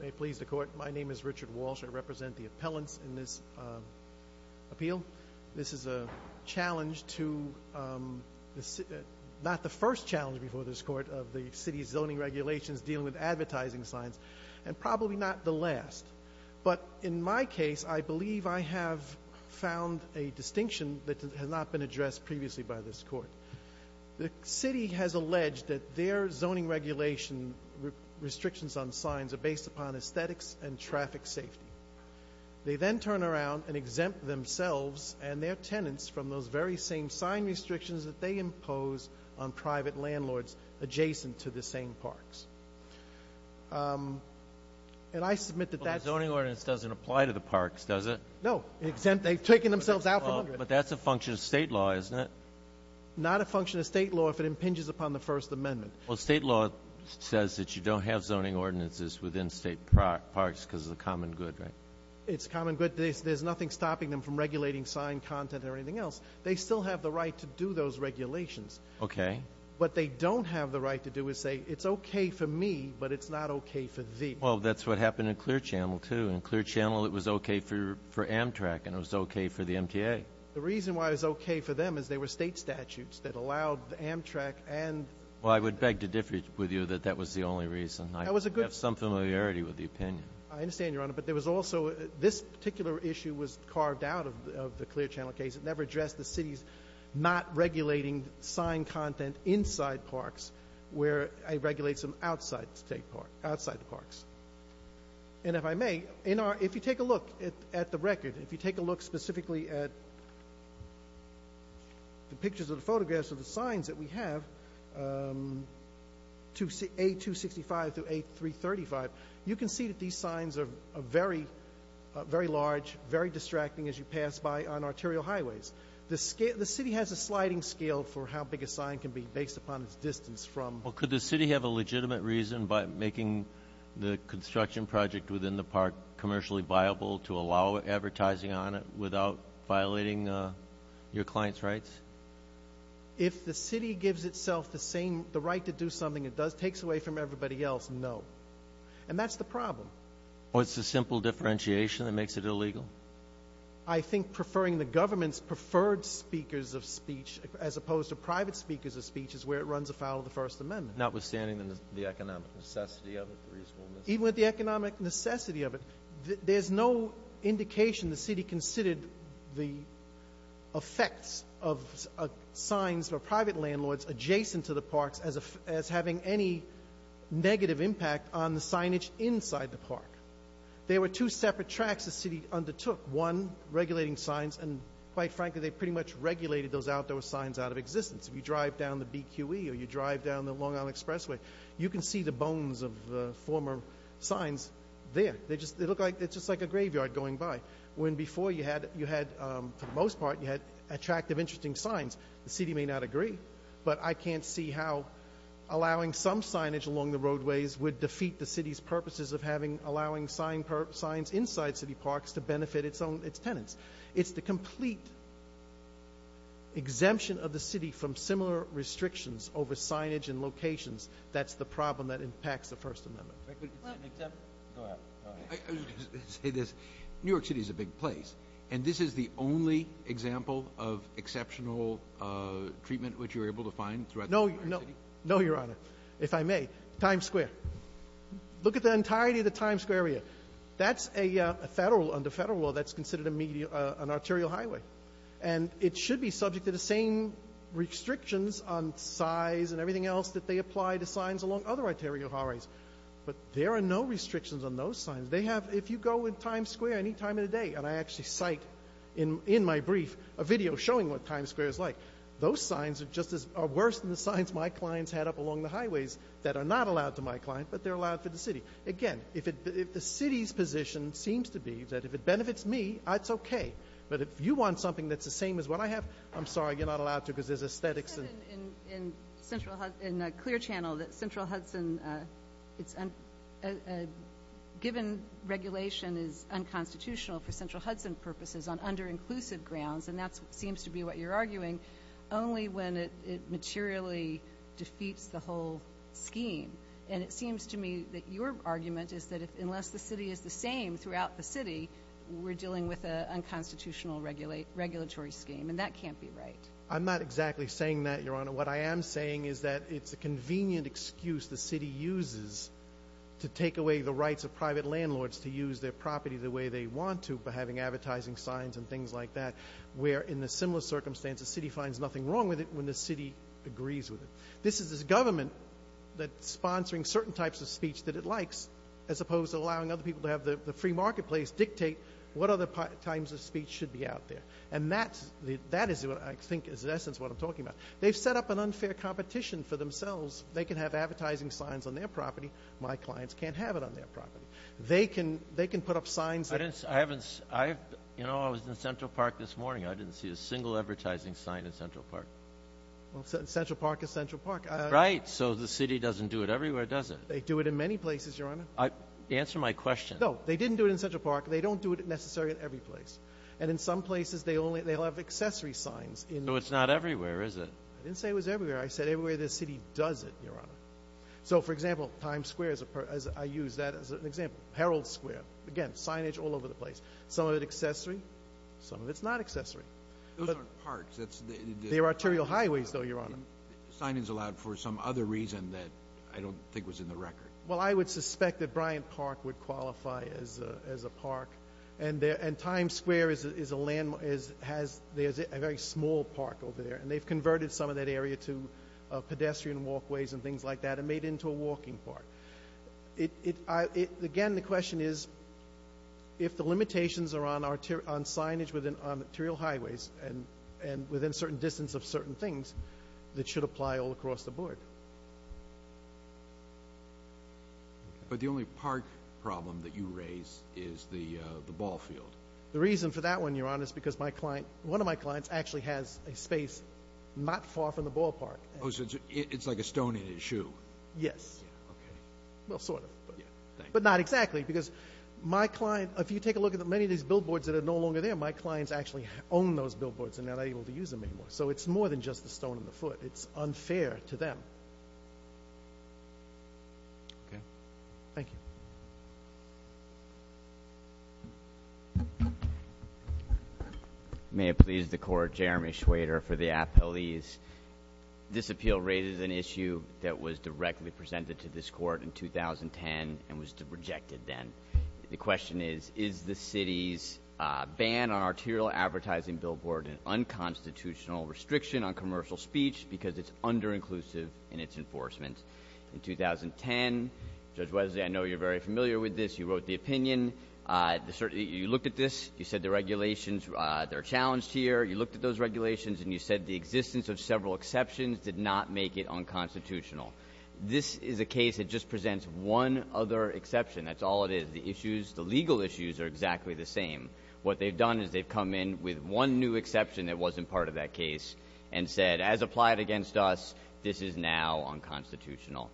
May it please the Court, my name is Richard Walsh. I represent the appellants in this appeal. This is a challenge to, not the first challenge before this Court, of the City's zoning regulations dealing with advertising signs, and probably not the last. But in my case, I believe I have found a distinction that has not been addressed previously by this Court. The City has alleged that their zoning regulation restrictions on signs are based upon aesthetics and traffic safety. They then turn around and exempt themselves and their tenants from those very same sign restrictions that they impose on private landlords adjacent to the same parks. And I submit that that's Well, the zoning ordinance doesn't apply to the parks, does it? No. They've taken themselves out from under it. But that's a function of state law if it impinges upon the First Amendment. Well, state law says that you don't have zoning ordinances within state parks because of the common good, right? It's common good. There's nothing stopping them from regulating sign content or anything else. They still have the right to do those regulations. Okay. What they don't have the right to do is say, it's okay for me, but it's not okay for thee. Well, that's what happened in Clear Channel, too. In Clear Channel, it was okay for Amtrak, and it was okay for state statutes that allowed Amtrak and Well, I would beg to differ with you that that was the only reason. I have some familiarity with the opinion. I understand, Your Honor, but there was also this particular issue was carved out of the Clear Channel case. It never addressed the city's not regulating sign content inside parks where it regulates them outside the parks. And if I may, if you take a look at the record, if you take a look specifically at the pictures of the photographs of the signs that we have, A265 through A335, you can see that these signs are very, very large, very distracting as you pass by on arterial highways. The city has a sliding scale for how big a sign can be based upon its distance from Well, could the city have a legitimate reason by making the construction project within the park commercially viable to allow advertising on it without violating your client's rights? If the city gives itself the same the right to do something it does takes away from everybody else? No. And that's the problem. What's the simple differentiation that makes it illegal? I think preferring the government's preferred speakers of speech as opposed to private speakers of speech is where it runs afoul of the First Amendment. Notwithstanding the economic necessity of it. Even with the economic necessity of it, there's no indication the city considered the effects of signs or private landlords adjacent to the parks as having any negative impact on the signage inside the park. There were two separate tracks the city undertook, one regulating signs and quite frankly, they pretty much regulated those outdoor signs out of existence. If you drive down the BQE or you drive down the Long You can see the bones of the former signs there. It's just like a graveyard going by. When before you had, for the most part, you had attractive, interesting signs, the city may not agree, but I can't see how allowing some signage along the roadways would defeat the city's purposes of allowing signs inside city parks to benefit its tenants. It's the problem that impacts the First Amendment. New York City is a big place, and this is the only example of exceptional treatment which you were able to find throughout the New York City? No, Your Honor, if I may. Times Square. Look at the entirety of the Times Square area. That's a federal, under federal law, that's considered an arterial highway. It should be subject to the same restrictions on size and everything else that they apply to signs along other arterial highways, but there are no restrictions on those signs. They have, if you go in Times Square any time of the day, and I actually cite in my brief a video showing what Times Square is like, those signs are just as, are worse than the signs my clients had up along the highways that are not allowed to my client, but they're allowed for the city. Again, if the city's position seems to be that if it benefits me, that's okay, but if you want something that's the same as what I have, I'm sorry, you're not allowed to because there's aesthetics. You said in Clear Channel that Central Hudson, given regulation is unconstitutional for Central Hudson purposes on under-inclusive grounds, and that seems to be what you're arguing, only when it materially defeats the whole scheme, and it seems to me that your argument is that unless the city is the same throughout the city, we're dealing with an unconstitutional regulatory scheme, and that can't be right. I'm not exactly saying that, Your Honor. What I am saying is that it's a convenient excuse the city uses to take away the rights of private landlords to use their property the way they want to by having advertising signs and things like that, where in the similar circumstances, the city finds nothing wrong with it when the city agrees with it. This is a government that's sponsoring certain types of speech that it likes, as opposed to allowing other people to have the free marketplace dictate what other types of speech should be out there, and that is what I think is in essence what I'm talking about. They've set up an unfair competition for themselves. They can have advertising signs on their property. My clients can't have it on their property. They can put up signs that... I was in Central Park this morning. I didn't see a single advertising sign in Central Park. Central Park is Central Park. Right, so the city doesn't do it everywhere, does it? They do it in many places, Your Honor. Answer my question. No, they didn't do it in Central Park. They don't do it necessarily in every place. And in some places, they'll have accessory signs. So it's not everywhere, is it? I didn't say it was everywhere. I said everywhere the city does it, Your Honor. So, for example, Times Square, I use that as an example. Herald Square. Again, signage all over the place. Some of it accessory. Some of it's not accessory. Those aren't parks. They're arterial highways, though, Your Honor. Signage allowed for some other reason that I don't think was in the record. Well, I would suspect that Bryant Park would qualify as a park. And Times Square is a landmark. There's a very small park over there. And they've converted some of that area to pedestrian walkways and things like that and made it into a walking park. Again, the question is, if the limitations are on signage within arterial highways and within a certain distance of certain things, that should apply all across the board. But the only park problem that you raise is the ball field. The reason for that one, Your Honor, is because one of my clients actually has a space not far from the ballpark. Oh, so it's like a stone in his shoe. Yes. Okay. Well, sort of. But not exactly, because my client, if you take a look at many of these billboards that are no longer there, my clients actually own those billboards and are not able to use them anymore. So it's more than just the stone in the foot. It's unfair to them. Okay. Thank you. May it please the Court. Jeremy Schwader for the appellees. This appeal raises an issue that was directly presented to this Court in 2010 and was rejected then. The question is, is the city's ban on arterial advertising billboard an unconstitutional restriction on commercial speech because it's under-inclusive in its enforcement? In 2010, Judge Wesley, I know you're very familiar with this. You wrote the opinion. You looked at this. You said the regulations, they're challenged here. You looked at those regulations, and you said the existence of several exceptions did not make it unconstitutional. This is a case that just presents one other exception. That's all it is. The issues, the legal issues, are exactly the same. What they've done is they've come in with one new exception that wasn't part of that case and said, as applied against us, this is now unconstitutional.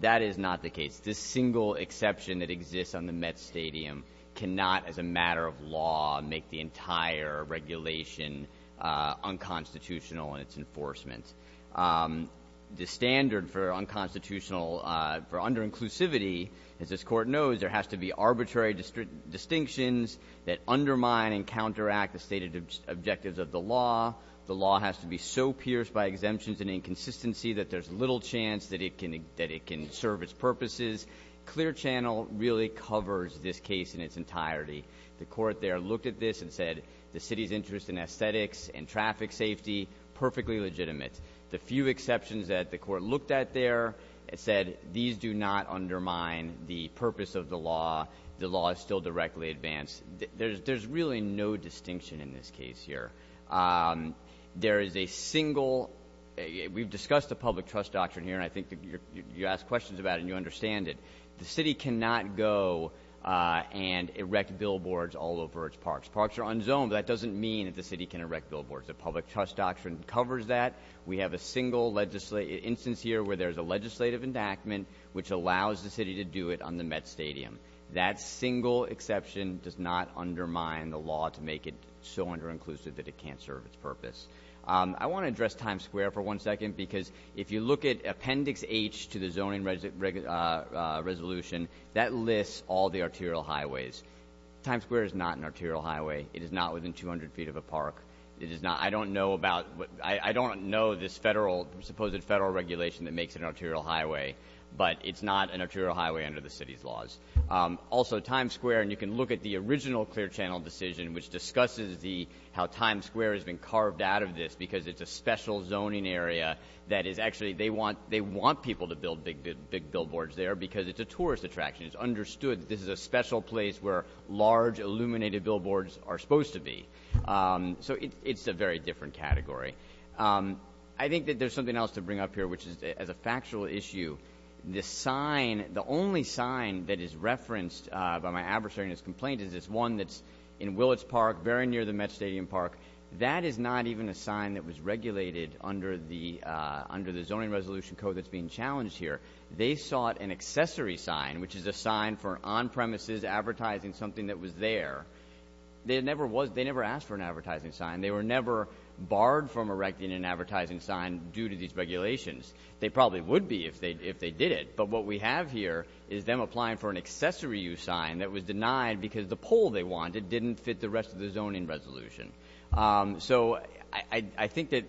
That is not the case. This single exception that exists on the Met Stadium cannot, as a matter of law, make the entire regulation unconstitutional in its enforcement. The standard for unconstitutional, for under-inclusivity, as this Court knows, there has to be arbitrary distinctions that undermine and counteract the stated objectives of the law. The law has to be so pierced by exemptions and inconsistency that there's little chance that it can serve its purposes. Clear Channel really covers this case in its entirety. The Court there looked at this and said the city's interest in aesthetics and traffic safety, perfectly legitimate. The few exceptions that the Court looked at there said these do not undermine the purpose of the law. The law is still directly advanced. There's really no distinction in this case here. There is a single, we've discussed the public trust doctrine here, and I think you ask questions about it and you understand it. The city cannot go and erect billboards all over its parks. Parks are unzoned, but that doesn't mean that the city can erect billboards. The public trust doctrine covers that. We have a single instance here where there's a legislative endowment which allows the city to do it on the Met Stadium. That single exception does not undermine the law to make it so under-inclusive that it can't serve its purpose. I want to address Times Square for one second because if you look at Appendix H to the zoning resolution, that lists all the arterial highways. Times Square is not an arterial highway. It is not within 200 feet of a park. I don't know this supposed federal regulation that makes it an arterial highway, but it's not an arterial highway under the city's laws. Also, Times Square, and you can look at the original clear channel decision, which discusses how Times Square has been carved out of this because it's a special zoning area that is actually, they want people to build big billboards there because it's a tourist attraction. It's understood that this is a special place where large illuminated billboards are supposed to be. So it's a very different category. I think that there's something else to bring up here, which is as a factual issue, the sign, the only sign that is referenced by my adversary in his complaint is this one that's in Willits Park, very near the Met Stadium Park. That is not even a sign that was regulated under the zoning resolution code that's being challenged here. They sought an accessory sign, which is a sign for on-premises advertising something that was there. They never asked for an advertising sign. They were never barred from erecting an advertising sign due to these regulations. They probably would be if they did it. But what we have here is them applying for an accessory use sign that was denied because the pole they wanted didn't fit the rest of the zoning resolution. So I think that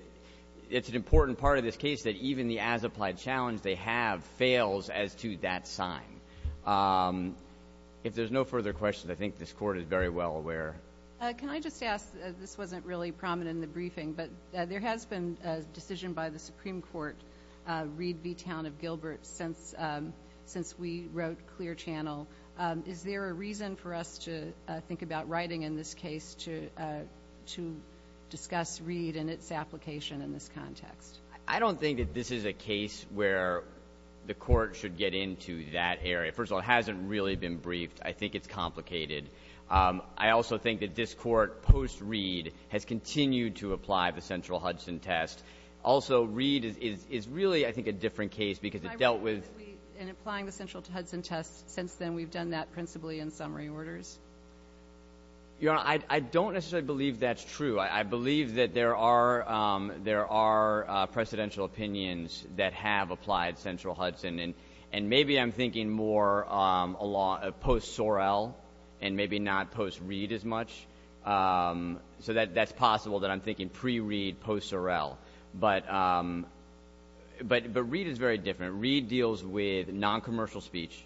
it's an important part of this case that even the as-applied challenge they have fails as to that sign. If there's no further questions, I think this Court is very well aware. Can I just ask, this wasn't really prominent in the briefing, but there has been a decision by the Supreme Court, Reed v. Town of Gilbert, since we wrote Clear Channel. Is there a reason for us to think about writing in this case to discuss Reed and its application in this context? I don't think that this is a case where the Court should get into that area. First of all, it hasn't really been briefed. I think it's complicated. I also think that this Court, post-Reed, has continued to apply the central Hudson test. Also, Reed is really, I think, a different case because it dealt with ‑‑ I read that in applying the central Hudson test, since then we've done that principally in summary orders. Your Honor, I don't necessarily believe that's true. I believe that there are presidential opinions that have applied central Hudson, and maybe I'm thinking more post-Sorrell and maybe not post-Reed as much. So that's possible that I'm thinking pre-Reed, post-Sorrell. But Reed is very different. Reed deals with noncommercial speech.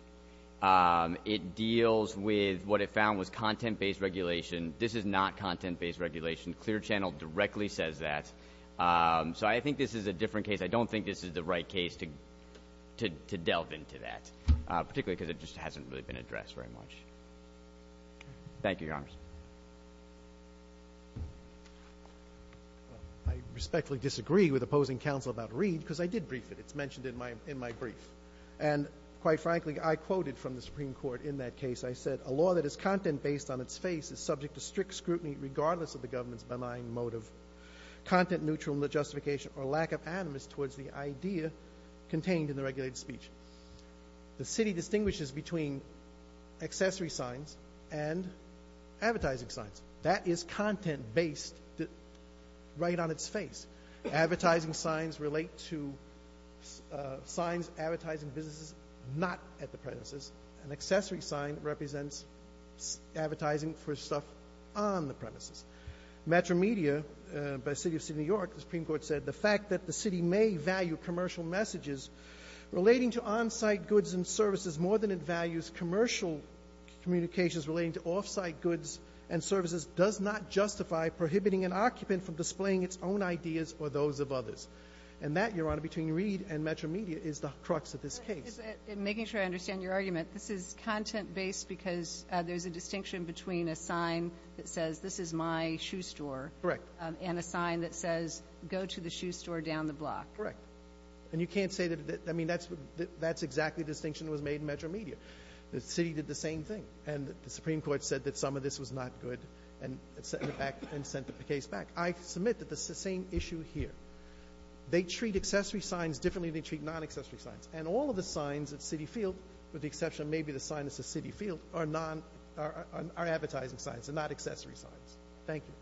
It deals with what it found was content-based regulation. This is not content-based regulation. Clear Channel directly says that. So I think this is a different case. I don't think this is the right case to delve into that, particularly because it just hasn't really been addressed very much. Thank you, Your Honor. I respectfully disagree with opposing counsel about Reed because I did brief it. It's mentioned in my brief. And quite frankly, I quoted from the Supreme Court in that case. I said, A law that is content-based on its face is subject to strict scrutiny regardless of the government's benign motive, content-neutral in the justification or lack of animus towards the idea contained in the regulated speech. The city distinguishes between accessory signs and advertising signs. That is content-based right on its face. Advertising signs relate to signs advertising businesses not at the premises. An accessory sign represents advertising for stuff on the premises. Metro Media by the City of New York, the Supreme Court said, The fact that the city may value commercial messages relating to on-site goods and services more than it values commercial communications relating to off-site goods and services does not justify prohibiting an occupant from displaying its own ideas or those of others. And that, Your Honor, between Reed and Metro Media is the crux of this case. Just making sure I understand your argument, this is content-based because there's a distinction between a sign that says, This is my shoe store. Correct. And a sign that says, Go to the shoe store down the block. Correct. And you can't say that, I mean, that's exactly the distinction that was made in Metro Media. The city did the same thing. And the Supreme Court said that some of this was not good and sent the case back. I submit that this is the same issue here. They treat accessory signs differently than they treat non-accessory signs. And all of the signs at Citi Field, with the exception of maybe the sign that says Citi Field, are advertising signs and not accessory signs. Thank you.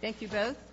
Thank you both.